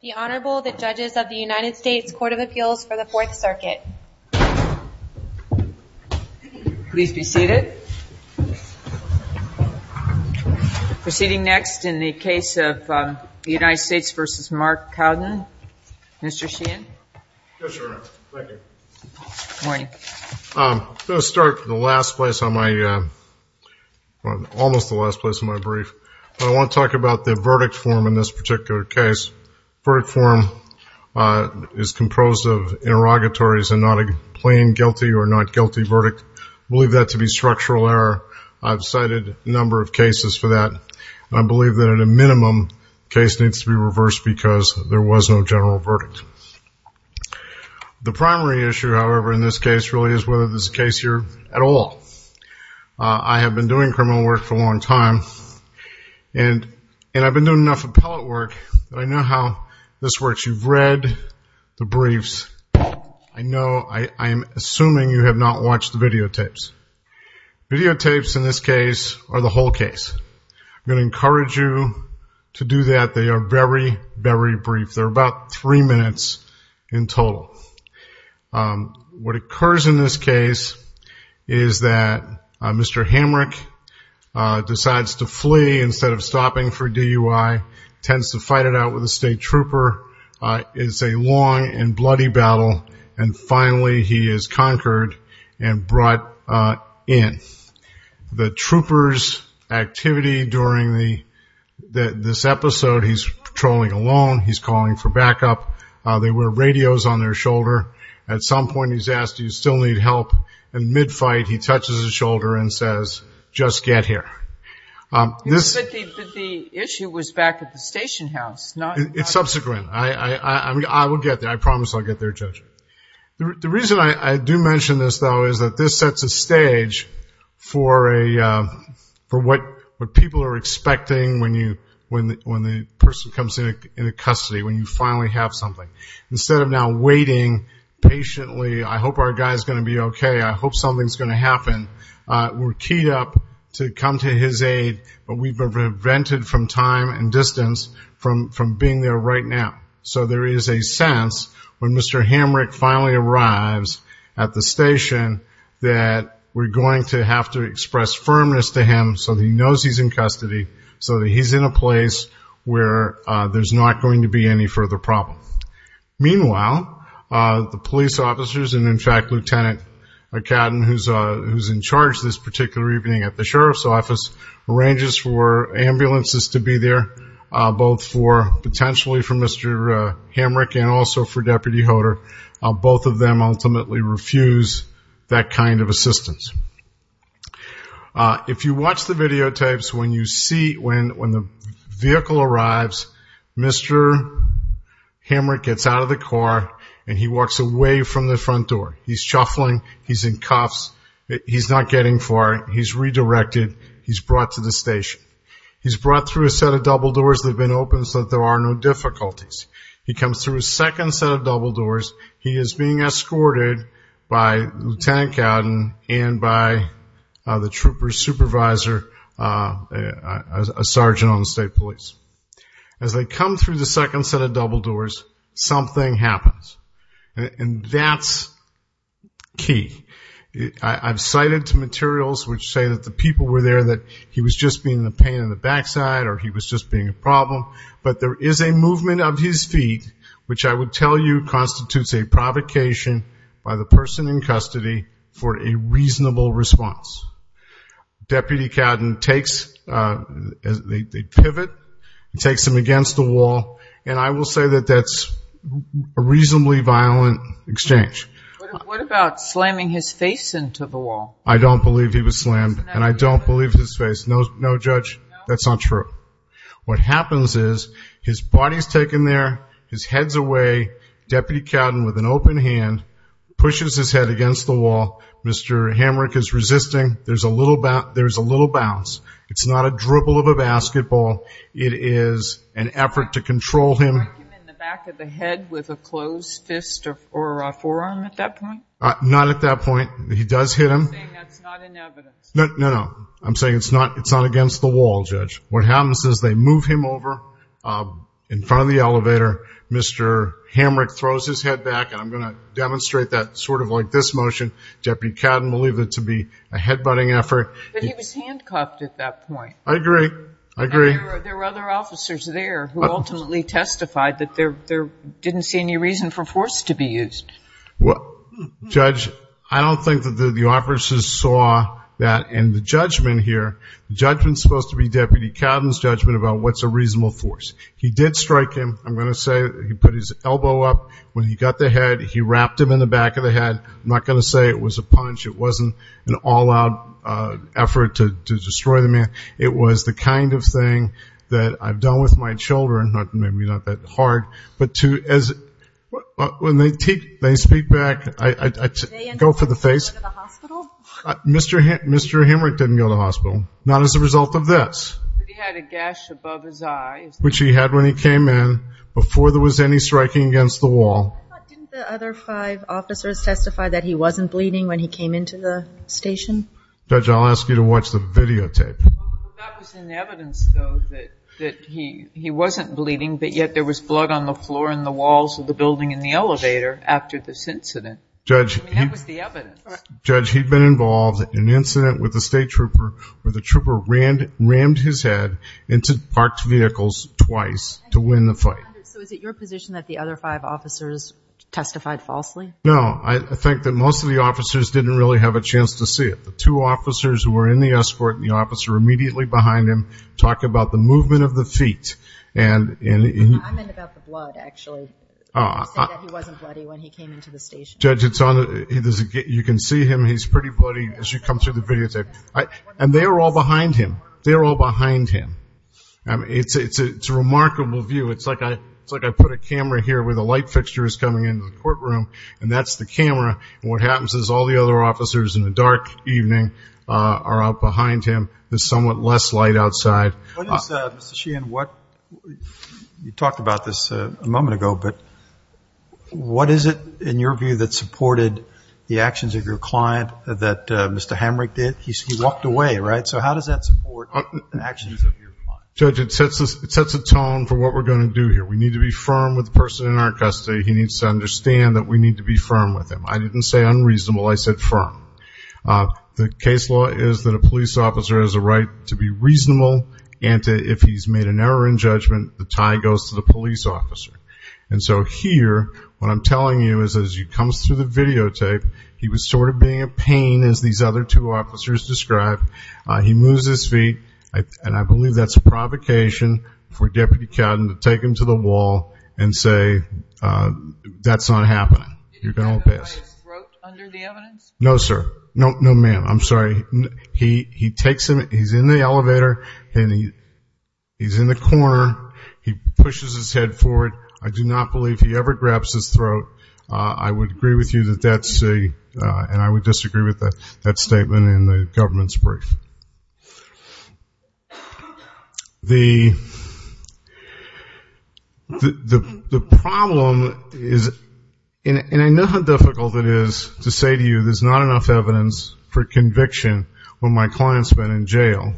The Honorable, the Judges of the United States Court of Appeals for the Fourth Circuit. Please be seated. Proceeding next in the case of the United States v. Mark Cowden. Mr. Sheehan. Yes, Your Honor. Thank you. Good morning. I'm going to start in the last place on my, almost the last place on my brief. I want to talk about the verdict form in this particular case. Verdict form is composed of interrogatories and not a plain guilty or not guilty verdict. I believe that to be structural error. I've cited a number of cases for that. I believe that at a minimum, the case needs to be reversed because there was no general verdict. The primary issue, however, in this case really is whether this is a case here at all. I have been doing criminal work for a long time. And I've been doing enough appellate work that I know how this works. You've read the briefs. I know, I'm assuming you have not watched the videotapes. Videotapes in this case are the whole case. I'm going to encourage you to do that. They are very, very brief. They're about three minutes in total. What occurs in this case is that Mr. Hamrick decides to flee instead of stopping for DUI, tends to fight it out with a state trooper. It's a long and bloody battle, and finally he is conquered and brought in. The trooper's activity during this episode, he's patrolling alone, he's calling for backup. They wear radios on their shoulder. At some point he's asked, do you still need help? And mid-fight he touches his shoulder and says, just get here. But the issue was back at the station house. It's subsequent. I will get there. I promise I'll get there, Judge. The reason I do mention this, though, is that this sets a stage for what people are expecting when the person comes into custody, when you finally have something. Instead of now waiting patiently, I hope our guy's going to be okay, I hope something's going to happen. We're keyed up to come to his aid, but we've been prevented from time and distance from being there right now. So there is a sense when Mr. Hamrick finally arrives at the station that we're going to have to express firmness to him so he knows he's in custody, so that he's in a place where there's not going to be any further problem. Meanwhile, the police officers and, in fact, Lieutenant McCadden, who's in charge this particular evening at the Sheriff's Office, arranges for ambulances to be there, both for potentially for Mr. Hamrick and also for Deputy Hodor. Both of them ultimately refuse that kind of assistance. If you watch the videotapes, when the vehicle arrives, Mr. Hamrick gets out of the car and he walks away from the front door. He's shuffling, he's in cuffs, he's not getting far, he's redirected, he's brought to the station. He's brought through a set of double doors that have been opened so that there are no difficulties. He comes through a second set of double doors. He is being escorted by Lieutenant McCadden and by the trooper supervisor, a sergeant on the state police. As they come through the second set of double doors, something happens. And that's key. I've cited materials which say that the people were there, that he was just being the pain in the backside or he was just being a problem. But there is a movement of his feet, which I would tell you constitutes a provocation by the person in custody for a reasonable response. Deputy McCadden takes, they pivot, takes him against the wall, and I will say that that's a reasonably violent exchange. What about slamming his face into the wall? I don't believe he was slammed and I don't believe his face. No, Judge, that's not true. What happens is his body is taken there, his head is away. Deputy McCadden, with an open hand, pushes his head against the wall. Mr. Hamrick is resisting. There's a little bounce. It's not a dribble of a basketball. It is an effort to control him. Did he strike him in the back of the head with a closed fist or a forearm at that point? Not at that point. He does hit him. You're saying that's not in evidence. No, no. I'm saying it's not against the wall, Judge. What happens is they move him over in front of the elevator. Mr. Hamrick throws his head back, and I'm going to demonstrate that sort of like this motion. Deputy McCadden believed it to be a head-butting effort. But he was handcuffed at that point. I agree. I agree. And there were other officers there who ultimately testified that there didn't see any reason for force to be used. Judge, I don't think that the officers saw that in the judgment here. The judgment's supposed to be Deputy Cadden's judgment about what's a reasonable force. He did strike him. I'm going to say he put his elbow up when he got the head. He wrapped him in the back of the head. I'm not going to say it was a punch. It wasn't an all-out effort to destroy the man. It was the kind of thing that I've done with my children, maybe not that hard, but when they speak back, I go for the face. Did they end up going to the hospital? Mr. Hamrick didn't go to the hospital, not as a result of this. But he had a gash above his eye. Which he had when he came in before there was any striking against the wall. Didn't the other five officers testify that he wasn't bleeding when he came into the station? Judge, I'll ask you to watch the videotape. That was in evidence, though, that he wasn't bleeding, but yet there was blood on the floor and the walls of the building and the elevator after this incident. That was the evidence. Judge, he'd been involved in an incident with a state trooper where the trooper rammed his head into parked vehicles twice to win the fight. So is it your position that the other five officers testified falsely? No, I think that most of the officers didn't really have a chance to see it. The two officers who were in the escort and the officer immediately behind him talk about the movement of the feet. I meant about the blood, actually. He said that he wasn't bloody when he came into the station. Judge, you can see him. He's pretty bloody as you come through the videotape. And they were all behind him. They were all behind him. It's a remarkable view. It's like I put a camera here where the light fixture is coming into the courtroom, and that's the camera. And what happens is all the other officers in the dark evening are out behind him. There's somewhat less light outside. Mr. Sheehan, you talked about this a moment ago, but what is it in your view that supported the actions of your client that Mr. Hamrick did? He walked away, right? So how does that support the actions of your client? Judge, it sets a tone for what we're going to do here. We need to be firm with the person in our custody. He needs to understand that we need to be firm with him. I didn't say unreasonable. I said firm. The case law is that a police officer has a right to be reasonable, and if he's made an error in judgment, the tie goes to the police officer. And so here what I'm telling you is as he comes through the videotape, he was sort of being a pain, as these other two officers described. He moves his feet, and I believe that's a provocation for Deputy Catton to take him to the wall and say that's not happening. You're going to pass. Did he grab him by his throat under the evidence? No, sir. No, ma'am. I'm sorry. He takes him. He's in the elevator, and he's in the corner. He pushes his head forward. I do not believe he ever grabs his throat. I would agree with you that that's a, and I would disagree with that statement in the government's brief. The problem is, and I know how difficult it is to say to you there's not enough evidence for conviction when my client's been in jail,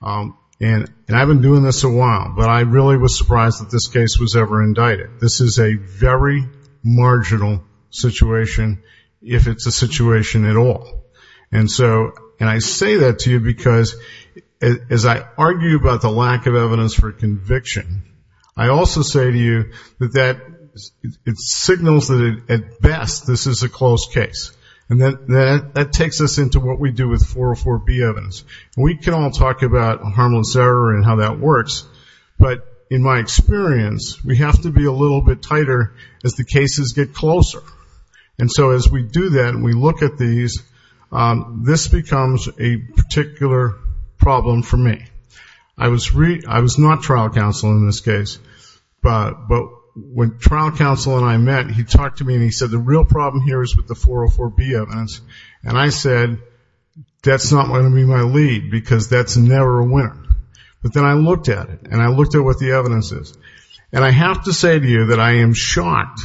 and I've been doing this a while, but I really was surprised that this case was ever indicted. This is a very marginal situation if it's a situation at all. And I say that to you because as I argue about the lack of evidence for conviction, I also say to you that it signals that at best this is a close case, and that takes us into what we do with 404B evidence. We can all talk about a harmless error and how that works, but in my experience we have to be a little bit tighter as the cases get closer. And so as we do that and we look at these, this becomes a particular problem for me. I was not trial counsel in this case, but when trial counsel and I met, he talked to me and he said the real problem here is with the 404B evidence, and I said that's not going to be my lead because that's never a winner. But then I looked at it, and I looked at what the evidence is. And I have to say to you that I am shocked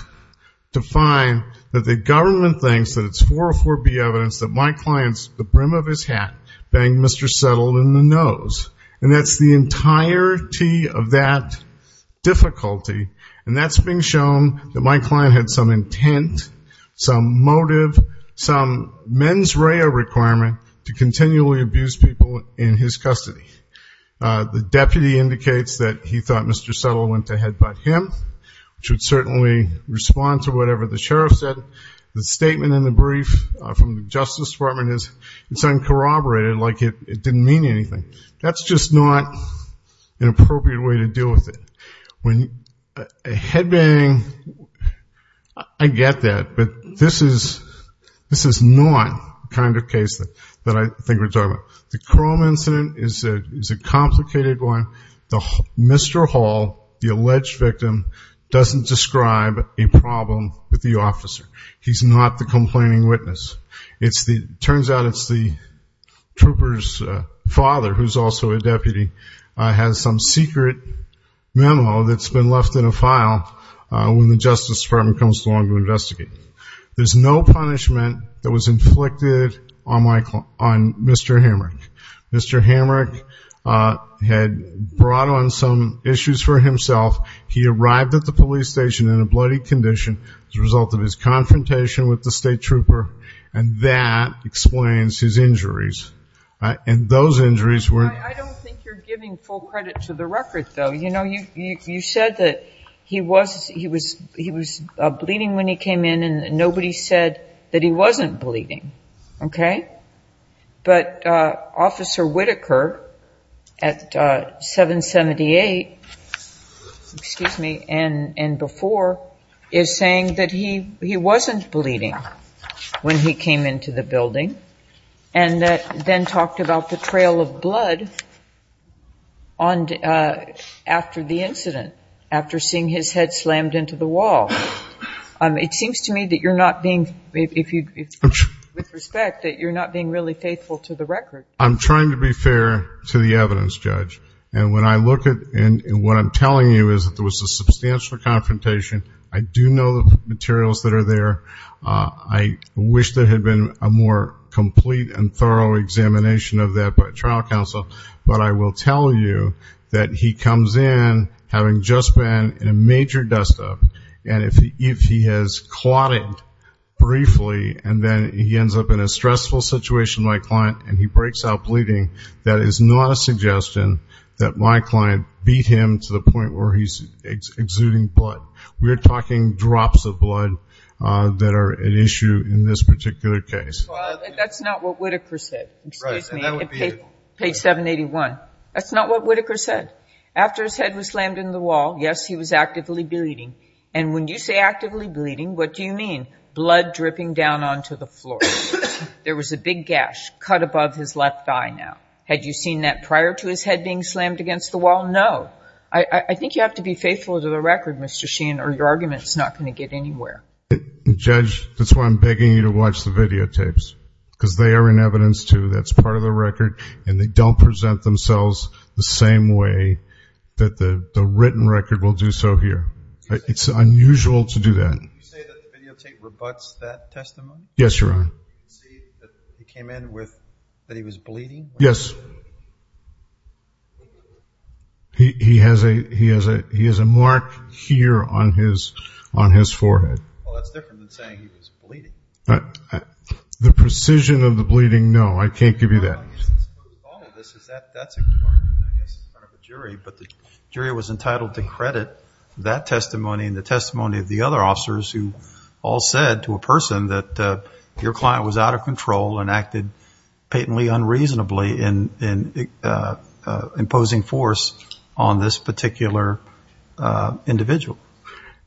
to find that the government thinks that it's 404B evidence, that my client, the brim of his hat, banged Mr. Settle in the nose. And that's the entirety of that difficulty, and that's being shown that my client had some intent, some motive, some mens rea requirement to continually abuse people in his custody. The deputy indicates that he thought Mr. Settle went to headbutt him, which would certainly respond to whatever the sheriff said. The statement in the brief from the Justice Department is it's uncorroborated, like it didn't mean anything. That's just not an appropriate way to deal with it. When a headbang, I get that, but this is not the kind of case that I think we're talking about. The Crowman incident is a complicated one. Mr. Hall, the alleged victim, doesn't describe a problem with the officer. He's not the complaining witness. It turns out it's the trooper's father, who's also a deputy, has some secret memo that's been left in a file when the Justice Department comes along to investigate. There's no punishment that was inflicted on Mr. Hamrick. Mr. Hamrick had brought on some issues for himself. He arrived at the police station in a bloody condition as a result of his confrontation with the state trooper, and that explains his injuries. And those injuries were ñ I don't think you're giving full credit to the record, though. You know, you said that he was bleeding when he came in, and nobody said that he wasn't bleeding, okay? But Officer Whitaker at 778, excuse me, and before, is saying that he wasn't bleeding when he came into the building, and then talked about the trail of blood after the incident, after seeing his head slammed into the wall. It seems to me that you're not being, with respect, that you're not being really faithful to the record. I'm trying to be fair to the evidence, Judge, and when I look at what I'm telling you is that there was a substantial confrontation. I do know the materials that are there. I wish there had been a more complete and thorough examination of that by trial counsel, but I will tell you that he comes in having just been in a major dust-up, and if he has clotted briefly and then he ends up in a stressful situation, my client, and he breaks out bleeding, that is not a suggestion that my client beat him to the point where he's exuding blood. We're talking drops of blood that are an issue in this particular case. Well, that's not what Whitaker said. Excuse me. Page 781. That's not what Whitaker said. After his head was slammed into the wall, yes, he was actively bleeding, and when you say actively bleeding, what do you mean? Blood dripping down onto the floor. There was a big gash cut above his left thigh now. Had you seen that prior to his head being slammed against the wall? No. I think you have to be faithful to the record, Mr. Sheehan, or your argument is not going to get anywhere. Judge, that's why I'm begging you to watch the videotapes, because they are an evidence, too, that's part of the record, and they don't present themselves the same way that the written record will do so here. It's unusual to do that. Did you say that the videotape rebuts that testimony? Yes, Your Honor. Did you say that he came in with, that he was bleeding? Yes. He has a mark here on his forehead. Well, that's different than saying he was bleeding. The precision of the bleeding, no, I can't give you that. The bottom of this is that's a good argument, I guess, in front of a jury, but the jury was entitled to credit that testimony and the testimony of the other officers who all said to a person that your client was out of control and acted patently unreasonably in imposing force on this particular individual.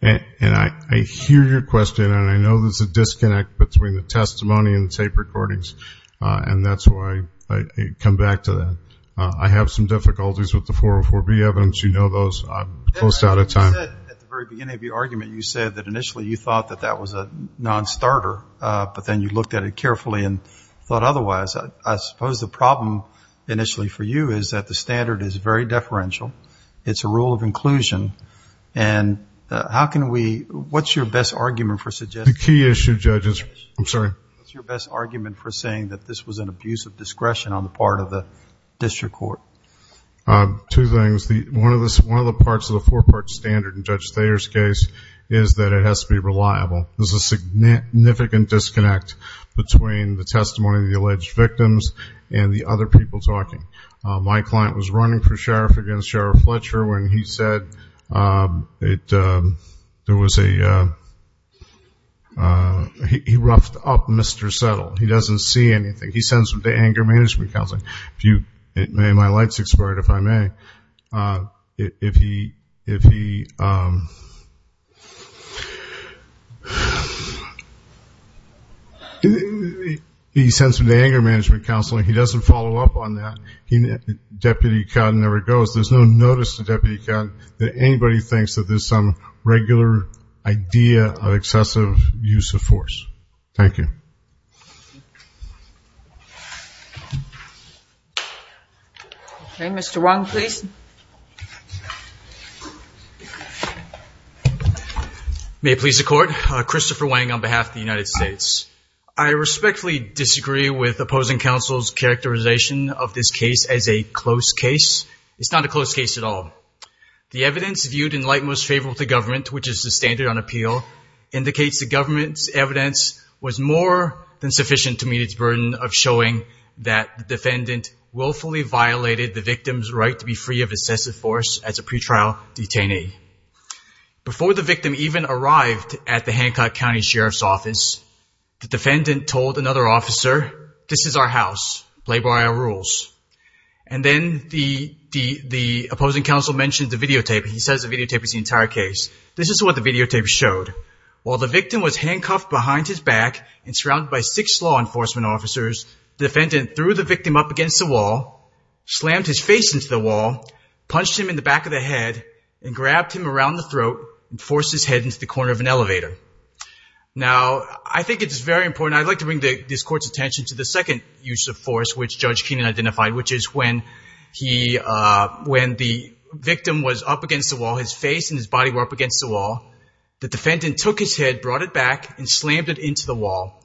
And I hear your question, and I know there's a disconnect between the testimony and the tape recordings, and that's why I come back to that. I have some difficulties with the 404B evidence. You know those. I'm close out of time. At the very beginning of your argument, you said that initially you thought that that was a non-starter, but then you looked at it carefully and thought otherwise. I suppose the problem initially for you is that the standard is very deferential. It's a rule of inclusion. And how can we, what's your best argument for suggesting? The key issue, Judge, is, I'm sorry. What's your best argument for saying that this was an abuse of discretion on the part of the district court? Two things. One of the parts of the four-part standard in Judge Thayer's case is that it has to be reliable. There's a significant disconnect between the testimony of the alleged victims and the other people talking. My client was running for sheriff against Sheriff Fletcher when he said there was a, he roughed up Mr. Settle. He doesn't see anything. He sends him to anger management counseling. My light's expired, if I may. If he, if he, he sends him to anger management counseling. He doesn't follow up on that. Deputy Cotton never goes. There's no notice to Deputy Cotton that anybody thinks that there's some regular idea of excessive use of force. Thank you. Okay. Mr. Wang, please. May it please the Court. Christopher Wang on behalf of the United States. I respectfully disagree with opposing counsel's characterization of this case as a close case. It's not a close case at all. The evidence viewed in light most favorable to government, which is the standard on appeal, indicates the government's evidence was more than sufficient to meet its burden of showing that the defendant willfully violated the victim's right to be free of excessive force as a pretrial detainee. Before the victim even arrived at the Hancock County Sheriff's Office, the defendant told another officer, this is our house, play by our rules. And then the opposing counsel mentioned the videotape. He says the videotape is the entire case. This is what the videotape showed. While the victim was handcuffed behind his back and surrounded by six law enforcement officers, the defendant threw the victim up against the wall, slammed his face into the wall, punched him in the back of the head, and grabbed him around the throat and forced his head into the corner of an elevator. Now, I think it's very important. I'd like to bring this Court's attention to the second use of force, which Judge Keenan identified, which is when the victim was up against the wall, his face and his body were up against the wall, the defendant took his head, brought it back, and slammed it into the wall.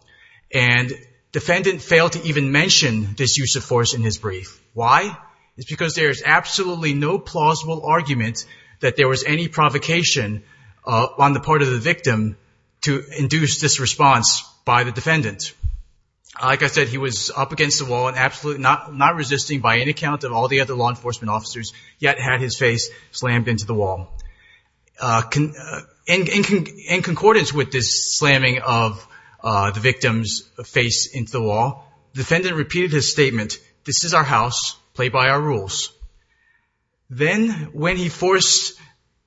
And the defendant failed to even mention this use of force in his brief. Why? It's because there is absolutely no plausible argument that there was any provocation on the part of the victim to induce this response by the defendant. Like I said, he was up against the wall and absolutely not resisting by any account of all the other law enforcement officers, yet had his face slammed into the wall. In concordance with this slamming of the victim's face into the wall, the defendant repeated his statement, this is our house, play by our rules. Then, when he forced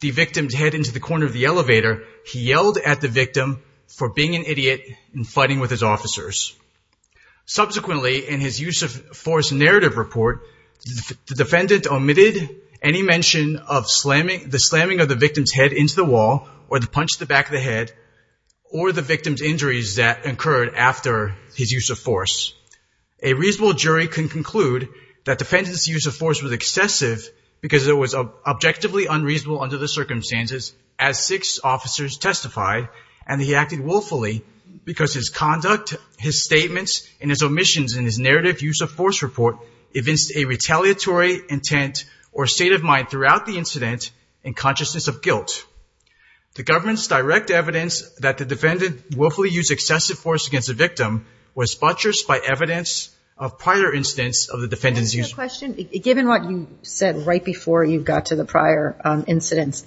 the victim's head into the corner of the elevator, he yelled at the victim for being an idiot and fighting with his officers. Subsequently, in his use of force narrative report, the defendant omitted any mention of the slamming of the victim's head into the wall or the punch to the back of the head or the victim's injuries that occurred after his use of force. A reasonable jury can conclude that the defendant's use of force was excessive because it was objectively unreasonable under the circumstances as six officers testified and he acted willfully because his conduct, his statements, and his omissions in his narrative use of force report evinced a retaliatory intent or state of mind throughout the incident in consciousness of guilt. The government's direct evidence that the defendant willfully used excessive force against the victim was buttressed by evidence of prior incidents of the defendant's use of force. Any questions? Given what you said right before you got to the prior incidents,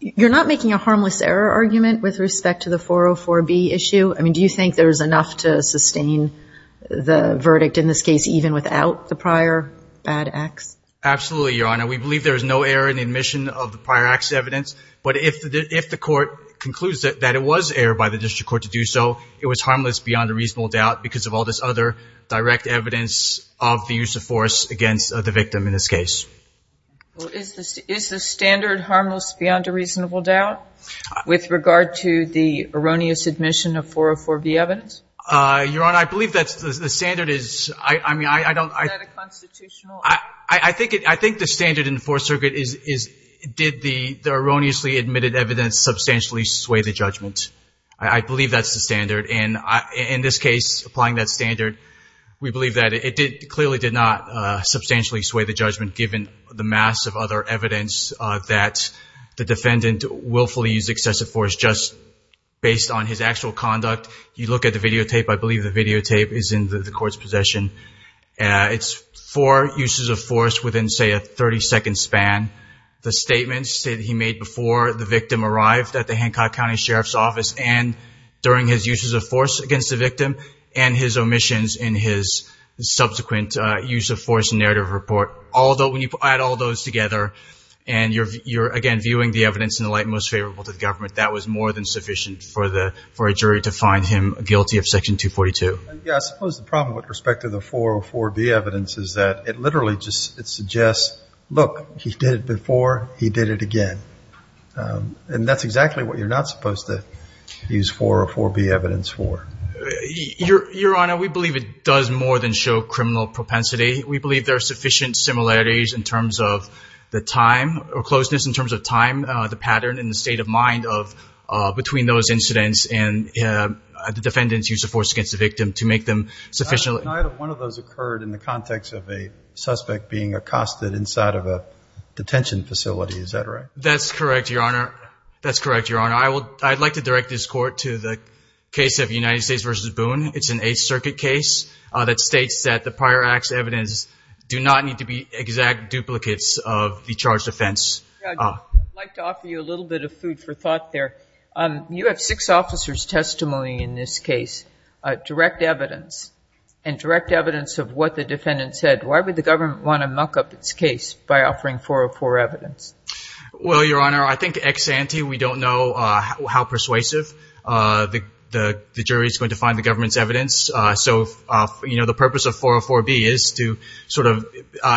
you're not making a harmless error argument with respect to the 404B issue? I mean, do you think there's enough to sustain the verdict in this case even without the prior bad acts? Absolutely, Your Honor. We believe there is no error in the admission of the prior acts evidence, but if the court concludes that it was error by the district court to do so, it was harmless beyond a reasonable doubt because of all this other direct evidence of the use of force against the victim in this case. Is the standard harmless beyond a reasonable doubt with regard to the erroneous admission of 404B evidence? Your Honor, I believe that the standard is, I mean, I don't. Is that a constitutional? I think the standard in the Fourth Circuit is did the erroneously admitted evidence substantially sway the judgment. I believe that's the standard, and in this case, applying that standard, we believe that it clearly did not substantially sway the judgment given the massive other evidence that the defendant willfully used excessive force just based on his actual conduct. You look at the videotape. I believe the videotape is in the court's possession. It's four uses of force within, say, a 30-second span. The statements that he made before the victim arrived at the Hancock County Sheriff's Office and during his uses of force against the victim and his omissions in his subsequent use of force narrative report. When you add all those together and you're, again, viewing the evidence in the light most favorable to the government, that was more than sufficient for a jury to find him guilty of Section 242. Yes, I suppose the problem with respect to the 404B evidence is that it literally just suggests, look, he did it before, he did it again. And that's exactly what you're not supposed to use 404B evidence for. Your Honor, we believe it does more than show criminal propensity. We believe there are sufficient similarities in terms of the time or closeness in terms of time, the pattern, and the state of mind between those incidents and the defendant's use of force against the victim to make them sufficiently. One of those occurred in the context of a suspect being accosted inside of a detention facility. Is that right? That's correct, Your Honor. That's correct, Your Honor. I'd like to direct this Court to the case of United States v. Boone. It's an Eighth Circuit case that states that the prior act's evidence do not need to be exact duplicates of the charged offense. I'd like to offer you a little bit of food for thought there. You have six officers' testimony in this case, direct evidence, and direct evidence of what the defendant said. Why would the government want to muck up its case by offering 404 evidence? Well, Your Honor, I think ex ante, we don't know how persuasive the jury is going to find the government's evidence. So, you know, the purpose of 404B is to sort of,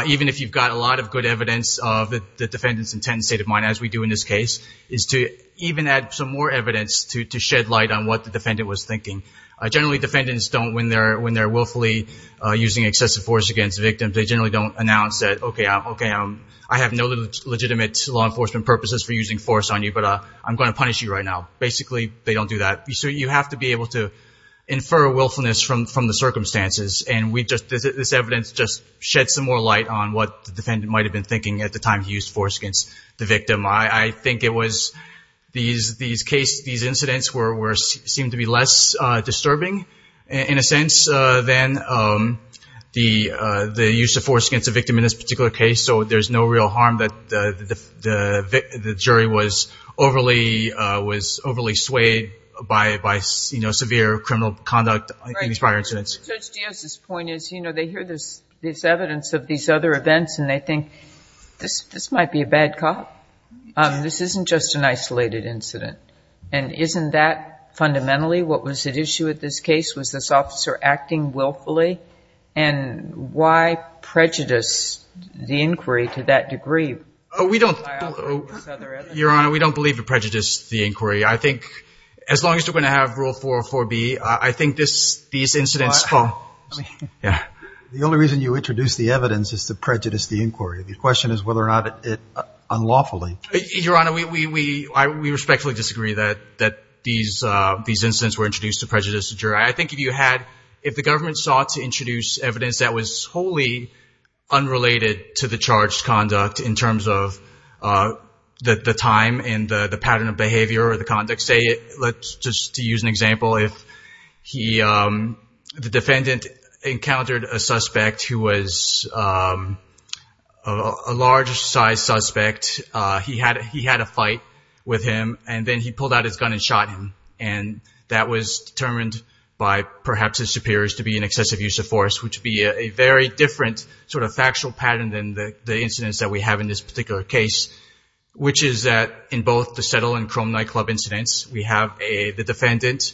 even if you've got a lot of good evidence of the defendant's intent and state of mind, as we do in this case, is to even add some more evidence to shed light on what the defendant was thinking. Generally, defendants don't, when they're willfully using excessive force against victims, they generally don't announce that, okay, I have no legitimate law enforcement purposes for using force on you, but I'm going to punish you right now. Basically, they don't do that. So you have to be able to infer willfulness from the circumstances, and this evidence just sheds some more light on what the defendant might have been thinking at the time he used force against the victim. I think it was these incidents seemed to be less disturbing, in a sense, than the use of force against the victim in this particular case. So there's no real harm that the jury was overly swayed by, you know, severe criminal conduct in these prior incidents. Judge Diaz's point is, you know, they hear this evidence of these other events and they think, this might be a bad cop. This isn't just an isolated incident. And isn't that fundamentally what was at issue with this case? Was this officer acting willfully? And why prejudice the inquiry to that degree? We don't, Your Honor, we don't believe it prejudiced the inquiry. I think as long as you're going to have Rule 404B, I think these incidents spoke. The only reason you introduced the evidence is to prejudice the inquiry. The question is whether or not it unlawfully. Your Honor, we respectfully disagree that these incidents were introduced to prejudice the jury. I think if you had, if the government sought to introduce evidence that was wholly unrelated to the charged conduct in terms of the time and the pattern of behavior or the conduct, say, let's just use an example. If the defendant encountered a suspect who was a large-sized suspect, he had a fight with him, and then he pulled out his gun and shot him. And that was determined by perhaps his superiors to be an excessive use of force, which would be a very different sort of factual pattern than the incidents that we have in this particular case, which is that in both the Settle and Chrome Nightclub incidents, we have the defendant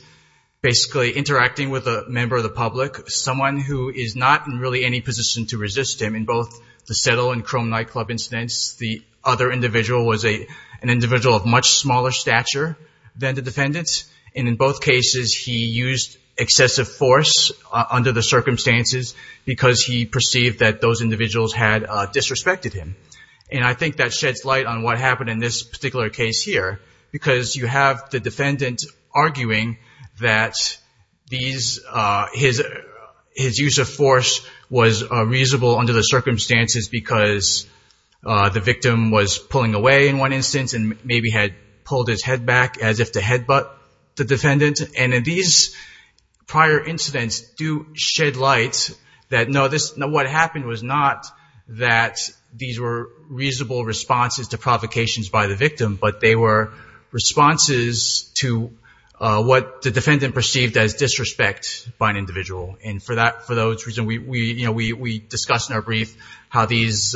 basically interacting with a member of the public, someone who is not in really any position to resist him. In both the Settle and Chrome Nightclub incidents, the other individual was an individual of much smaller stature than the defendant, and in both cases he used excessive force under the circumstances because he perceived that those individuals had disrespected him. And I think that sheds light on what happened in this particular case here, because you have the defendant arguing that his use of force was reasonable under the circumstances because the victim was pulling away in one instance and maybe had pulled his head back as if to headbutt the defendant. And these prior incidents do shed light that, no, what happened was not that these were reasonable responses to provocations by the victim, but they were responses to what the defendant perceived as disrespect by an individual. And for those reasons, we discussed in our brief how these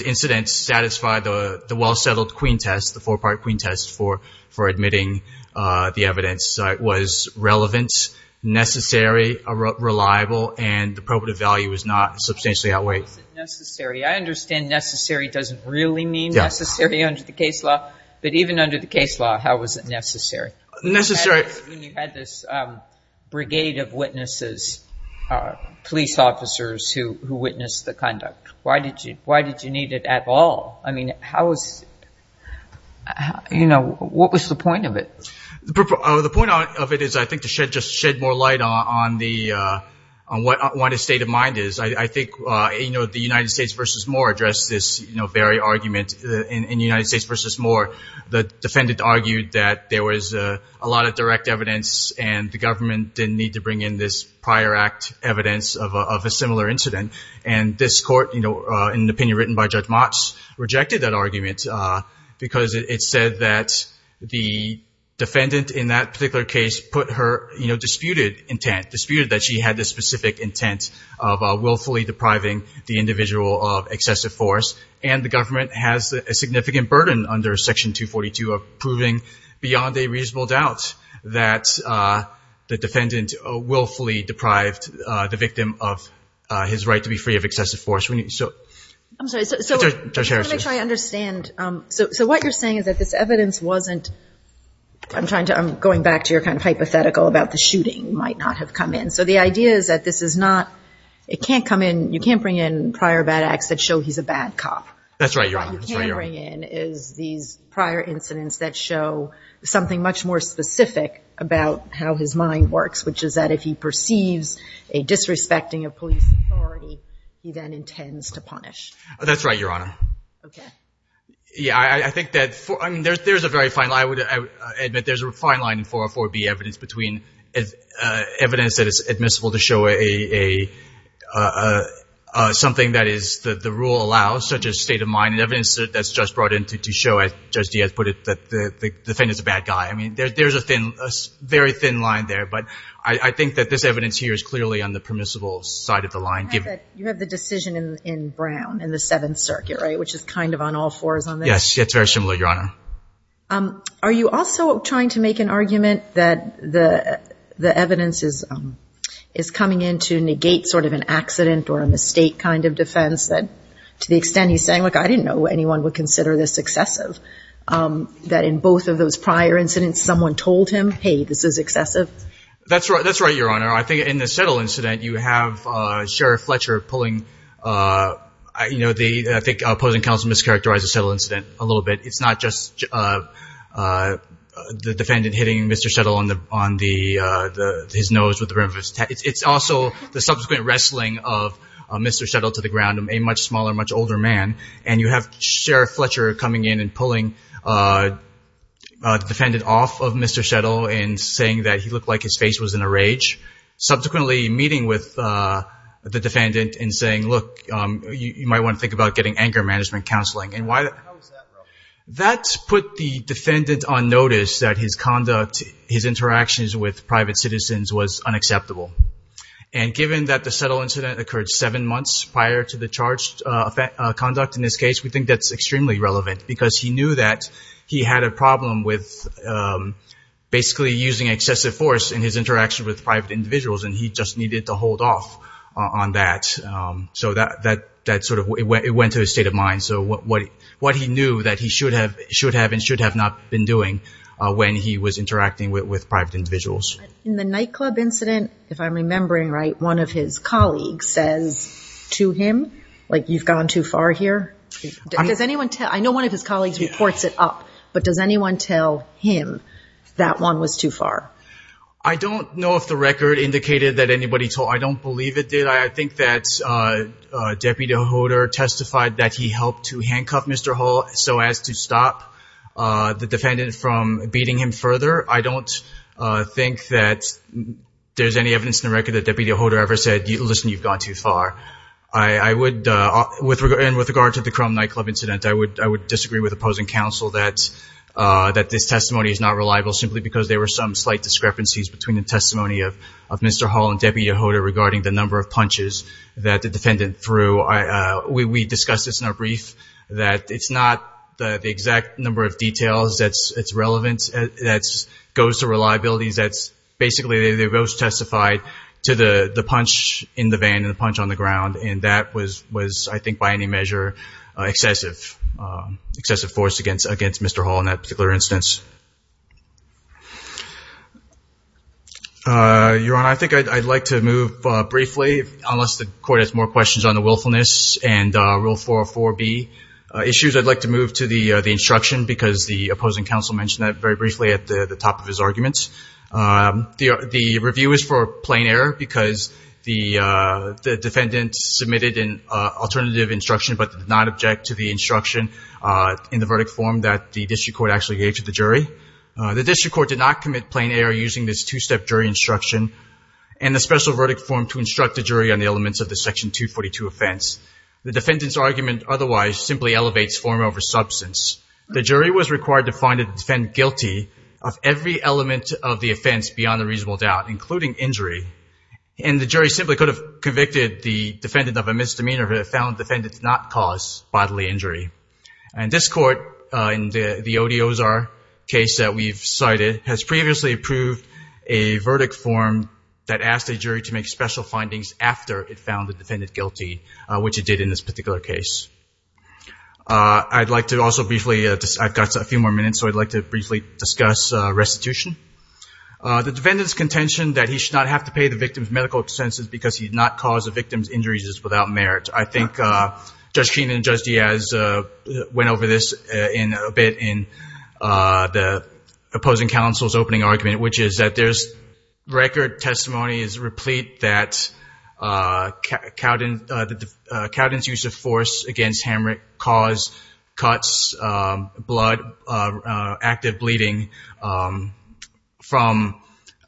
incidents satisfied the well-settled queen test, which was for admitting the evidence was relevant, necessary, reliable, and the probative value was not substantially outweighed. How was it necessary? I understand necessary doesn't really mean necessary under the case law, but even under the case law, how was it necessary? Necessary. When you had this brigade of witnesses, police officers who witnessed the conduct, why did you need it at all? I mean, what was the point of it? The point of it is, I think, to just shed more light on what his state of mind is. I think the United States v. Moore addressed this very argument in United States v. Moore. The defendant argued that there was a lot of direct evidence and the government didn't need to bring in this prior act evidence of a similar incident. And this court, in an opinion written by Judge Motz, rejected that argument because it said that the defendant in that particular case put her, you know, disputed intent, disputed that she had this specific intent of willfully depriving the individual of excessive force. And the government has a significant burden under Section 242 of proving beyond a reasonable doubt that the defendant willfully deprived the victim of his right to be free of excessive force. I'm sorry. Judge Harris. I want to make sure I understand. So what you're saying is that this evidence wasn't, I'm trying to, I'm going back to your kind of hypothetical about the shooting might not have come in. So the idea is that this is not, it can't come in, you can't bring in prior bad acts that show he's a bad cop. That's right, Your Honor. What you can bring in is these prior incidents that show something much more specific about how his mind works, which is that if he perceives a disrespecting of police authority, he then intends to punish. That's right, Your Honor. Okay. Yeah, I think that, I mean, there's a very fine line. I would admit there's a fine line in 404B evidence between evidence that is admissible to show a, something that is the rule allows, such as state of mind, and evidence that's just brought in to show, as Judge Diaz put it, that the defendant's a bad guy. I mean, there's a very thin line there. But I think that this evidence here is clearly on the permissible side of the line. You have the decision in Brown, in the Seventh Circuit, right, which is kind of on all fours on this? Yes, it's very similar, Your Honor. Are you also trying to make an argument that the evidence is coming in to negate sort of an accident or a mistake kind of defense that, to the extent he's saying, look, I didn't know anyone would consider this excessive, that in both of those prior incidents someone told him, hey, this is excessive? That's right, Your Honor. I think in the Settle incident, you have Sheriff Fletcher pulling, you know, I think opposing counsel mischaracterized the Settle incident a little bit. It's not just the defendant hitting Mr. Settle on his nose with the brim of his hat. It's also the subsequent wrestling of Mr. Settle to the ground, a much smaller, much older man. And you have Sheriff Fletcher coming in and pulling the defendant off of Mr. Settle and saying that he looked like his face was in a rage, subsequently meeting with the defendant and saying, look, you might want to think about getting anger management counseling. How is that relevant? That put the defendant on notice that his conduct, his interactions with private citizens was unacceptable. And given that the Settle incident occurred seven months prior to the charged conduct in this case, we think that's extremely relevant because he knew that he had a problem with basically using excessive force in his interaction with private individuals and he just needed to hold off on that. So that sort of went to his state of mind. So what he knew that he should have and should have not been doing when he was interacting with private individuals. In the nightclub incident, if I'm remembering right, one of his colleagues says to him, like, you've gone too far here. Does anyone tell, I know one of his colleagues reports it up, but does anyone tell him that one was too far? I don't know if the record indicated that anybody told, I don't believe it did. I think that Deputy Hodor testified that he helped to handcuff Mr. Hall so as to stop the defendant from beating him further. I don't think that there's any evidence in the record that Deputy Hodor ever said, listen, you've gone too far. I would, with regard to the nightclub incident, I would disagree with opposing counsel that this testimony is not reliable simply because there were some slight discrepancies between the testimony of Mr. Hall and Deputy Hodor regarding the number of punches that the defendant threw. We discussed this in a brief that it's not the exact number of details that's relevant, that goes to reliability, that's basically they both testified to the punch in the van and the punch on the ground. And that was, I think, by any measure excessive, excessive force against Mr. Hall in that particular instance. Your Honor, I think I'd like to move briefly, unless the court has more questions on the willfulness and Rule 404B issues, I'd like to move to the instruction because the opposing counsel mentioned that very briefly at the top of his arguments. The review is for plain error because the defendant submitted an alternative instruction but did not object to the instruction in the verdict form that the district court actually gave to the jury. The district court did not commit plain error using this two-step jury instruction and the special verdict form to instruct the jury on the elements of the Section 242 offense. The defendant's argument otherwise simply elevates form over substance. The jury was required to find the defendant guilty of every element of the offense beyond a reasonable doubt, including injury, and the jury simply could have convicted the defendant of a misdemeanor if it found the defendant did not cause bodily injury. And this court, in the Odi Ozar case that we've cited, has previously approved a verdict form that asked the jury to make special findings after it found the defendant guilty, which it did in this particular case. I'd like to also briefly, I've got a few more minutes, so I'd like to briefly discuss restitution. The defendant's contention that he should not have to pay the victim's medical expenses because he did not cause the victim's injuries is without merit. I think Judge Keenan and Judge Diaz went over this a bit in the opposing counsel's opening argument, which is that there's record testimony is replete that Cowden's use of force against Hamrick caused cuts, blood, active bleeding from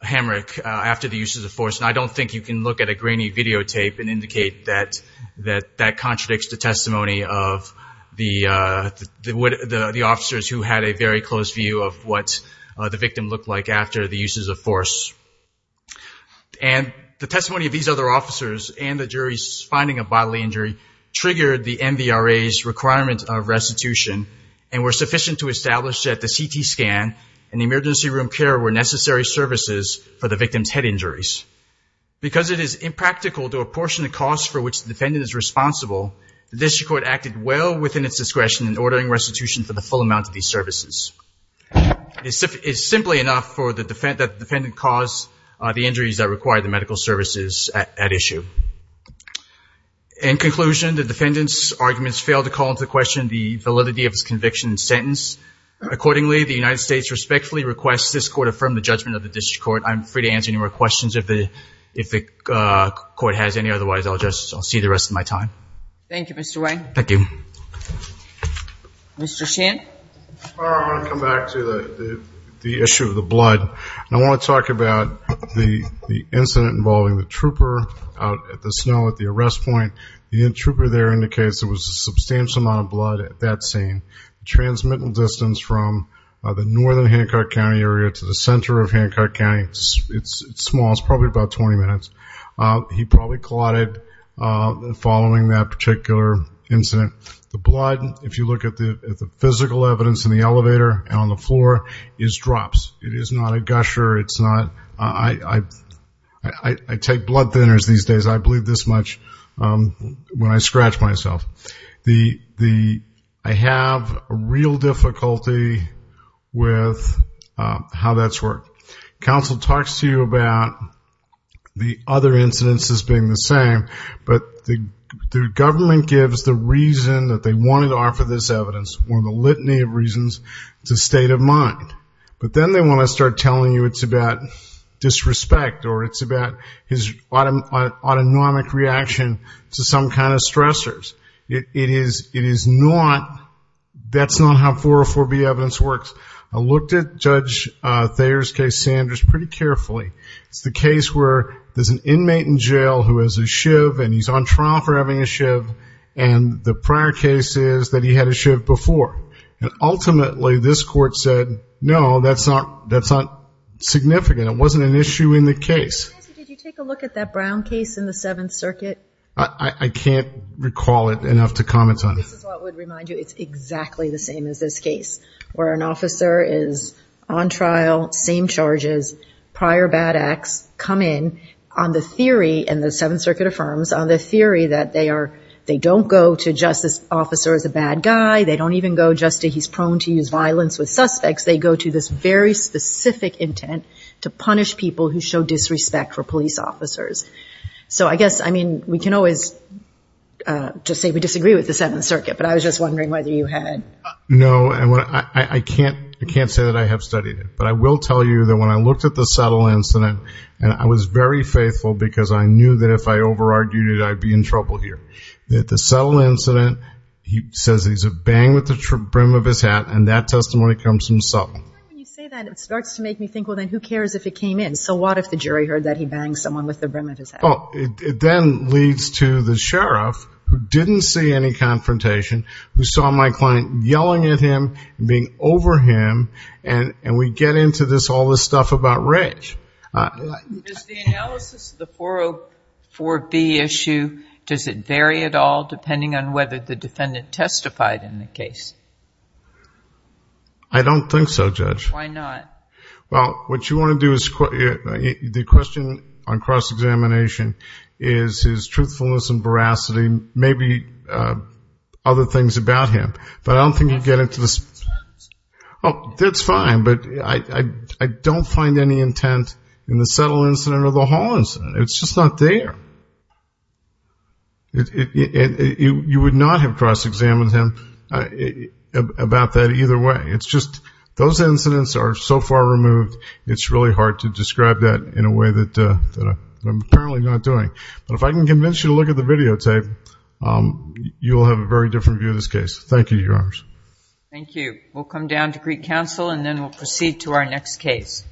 Hamrick after the use of force. And I don't think you can look at a grainy videotape and indicate that that contradicts the testimony of the officers who had a very close view of what the victim looked like after the uses of force. And the testimony of these other officers and the jury's finding of bodily injury triggered the MVRA's requirement of restitution and were sufficient to establish that the CT scan and the emergency room care were necessary services for the victim's head injuries. Because it is impractical to apportion a cost for which the defendant is responsible, the district court acted well within its discretion in ordering restitution for the full amount of these services. It's simply enough that the defendant cause the injuries that require the medical services at issue. In conclusion, the defendant's arguments failed to call into question the validity of his conviction and sentence. Accordingly, the United States respectfully requests this court affirm the judgment of the district court. I'm free to answer any more questions if the court has any. Otherwise, I'll just see the rest of my time. Thank you, Mr. Wayne. Thank you. Mr. Shand? I want to come back to the issue of the blood. I want to talk about the incident involving the trooper out at the snow at the arrest point. The trooper there indicates there was a substantial amount of blood at that scene, a transmittal distance from the northern Hancock County area to the center of Hancock County. It's small. It's probably about 20 minutes. He probably clotted following that particular incident. The blood, if you look at the physical evidence in the elevator and on the floor, is drops. It is not a gusher. It's not ñ I take blood thinners these days. I bleed this much when I scratch myself. I have a real difficulty with how that's worked. Counsel talks to you about the other incidents as being the same, but the government gives the reason that they wanted to offer this evidence, one of the litany of reasons, it's a state of mind. But then they want to start telling you it's about disrespect or it's about his autonomic reaction to some kind of stressors. It is not ñ that's not how 404B evidence works. I looked at Judge Thayer's case, Sanders, pretty carefully. It's the case where there's an inmate in jail who has a shiv, and he's on trial for having a shiv, and the prior case is that he had a shiv before. And ultimately this court said, no, that's not significant. It wasn't an issue in the case. Nancy, did you take a look at that Brown case in the Seventh Circuit? I can't recall it enough to comment on it. This is what would remind you. It's exactly the same as this case, where an officer is on trial, same charges, prior bad acts come in on the theory, and the Seventh Circuit affirms, on the theory that they are ñ they don't go to justice officer as a bad guy. They don't even go just to he's prone to use violence with suspects. They go to this very specific intent to punish people who show disrespect for police officers. So I guess, I mean, we can always just say we disagree with the Seventh Circuit, but I was just wondering whether you had ñ No, I can't say that I have studied it. But I will tell you that when I looked at the settle incident, and I was very faithful because I knew that if I over-argued it, I'd be in trouble here. The settle incident, he says he's a bang with the brim of his hat, and that testimony comes from Sutton. When you say that, it starts to make me think, well, then who cares if it came in? So what if the jury heard that he banged someone with the brim of his hat? Well, it then leads to the sheriff, who didn't see any confrontation, who saw my client yelling at him and being over him, and we get into this, all this stuff about rage. Does the analysis of the 404B issue, does it vary at all depending on whether the defendant testified in the case? I don't think so, Judge. Why not? Well, what you want to do is ñ the question on cross-examination is his truthfulness and veracity, maybe other things about him. But I don't think you get into the ñ That's fine. Oh, that's fine. But I don't find any intent in the settle incident or the Hall incident. It's just not there. You would not have cross-examined him about that either way. It's just those incidents are so far removed, it's really hard to describe that in a way that I'm apparently not doing. But if I can convince you to look at the videotape, you'll have a very different view of this case. Thank you, Your Honors. Thank you. We'll come down to Greek Council and then we'll proceed to our next case.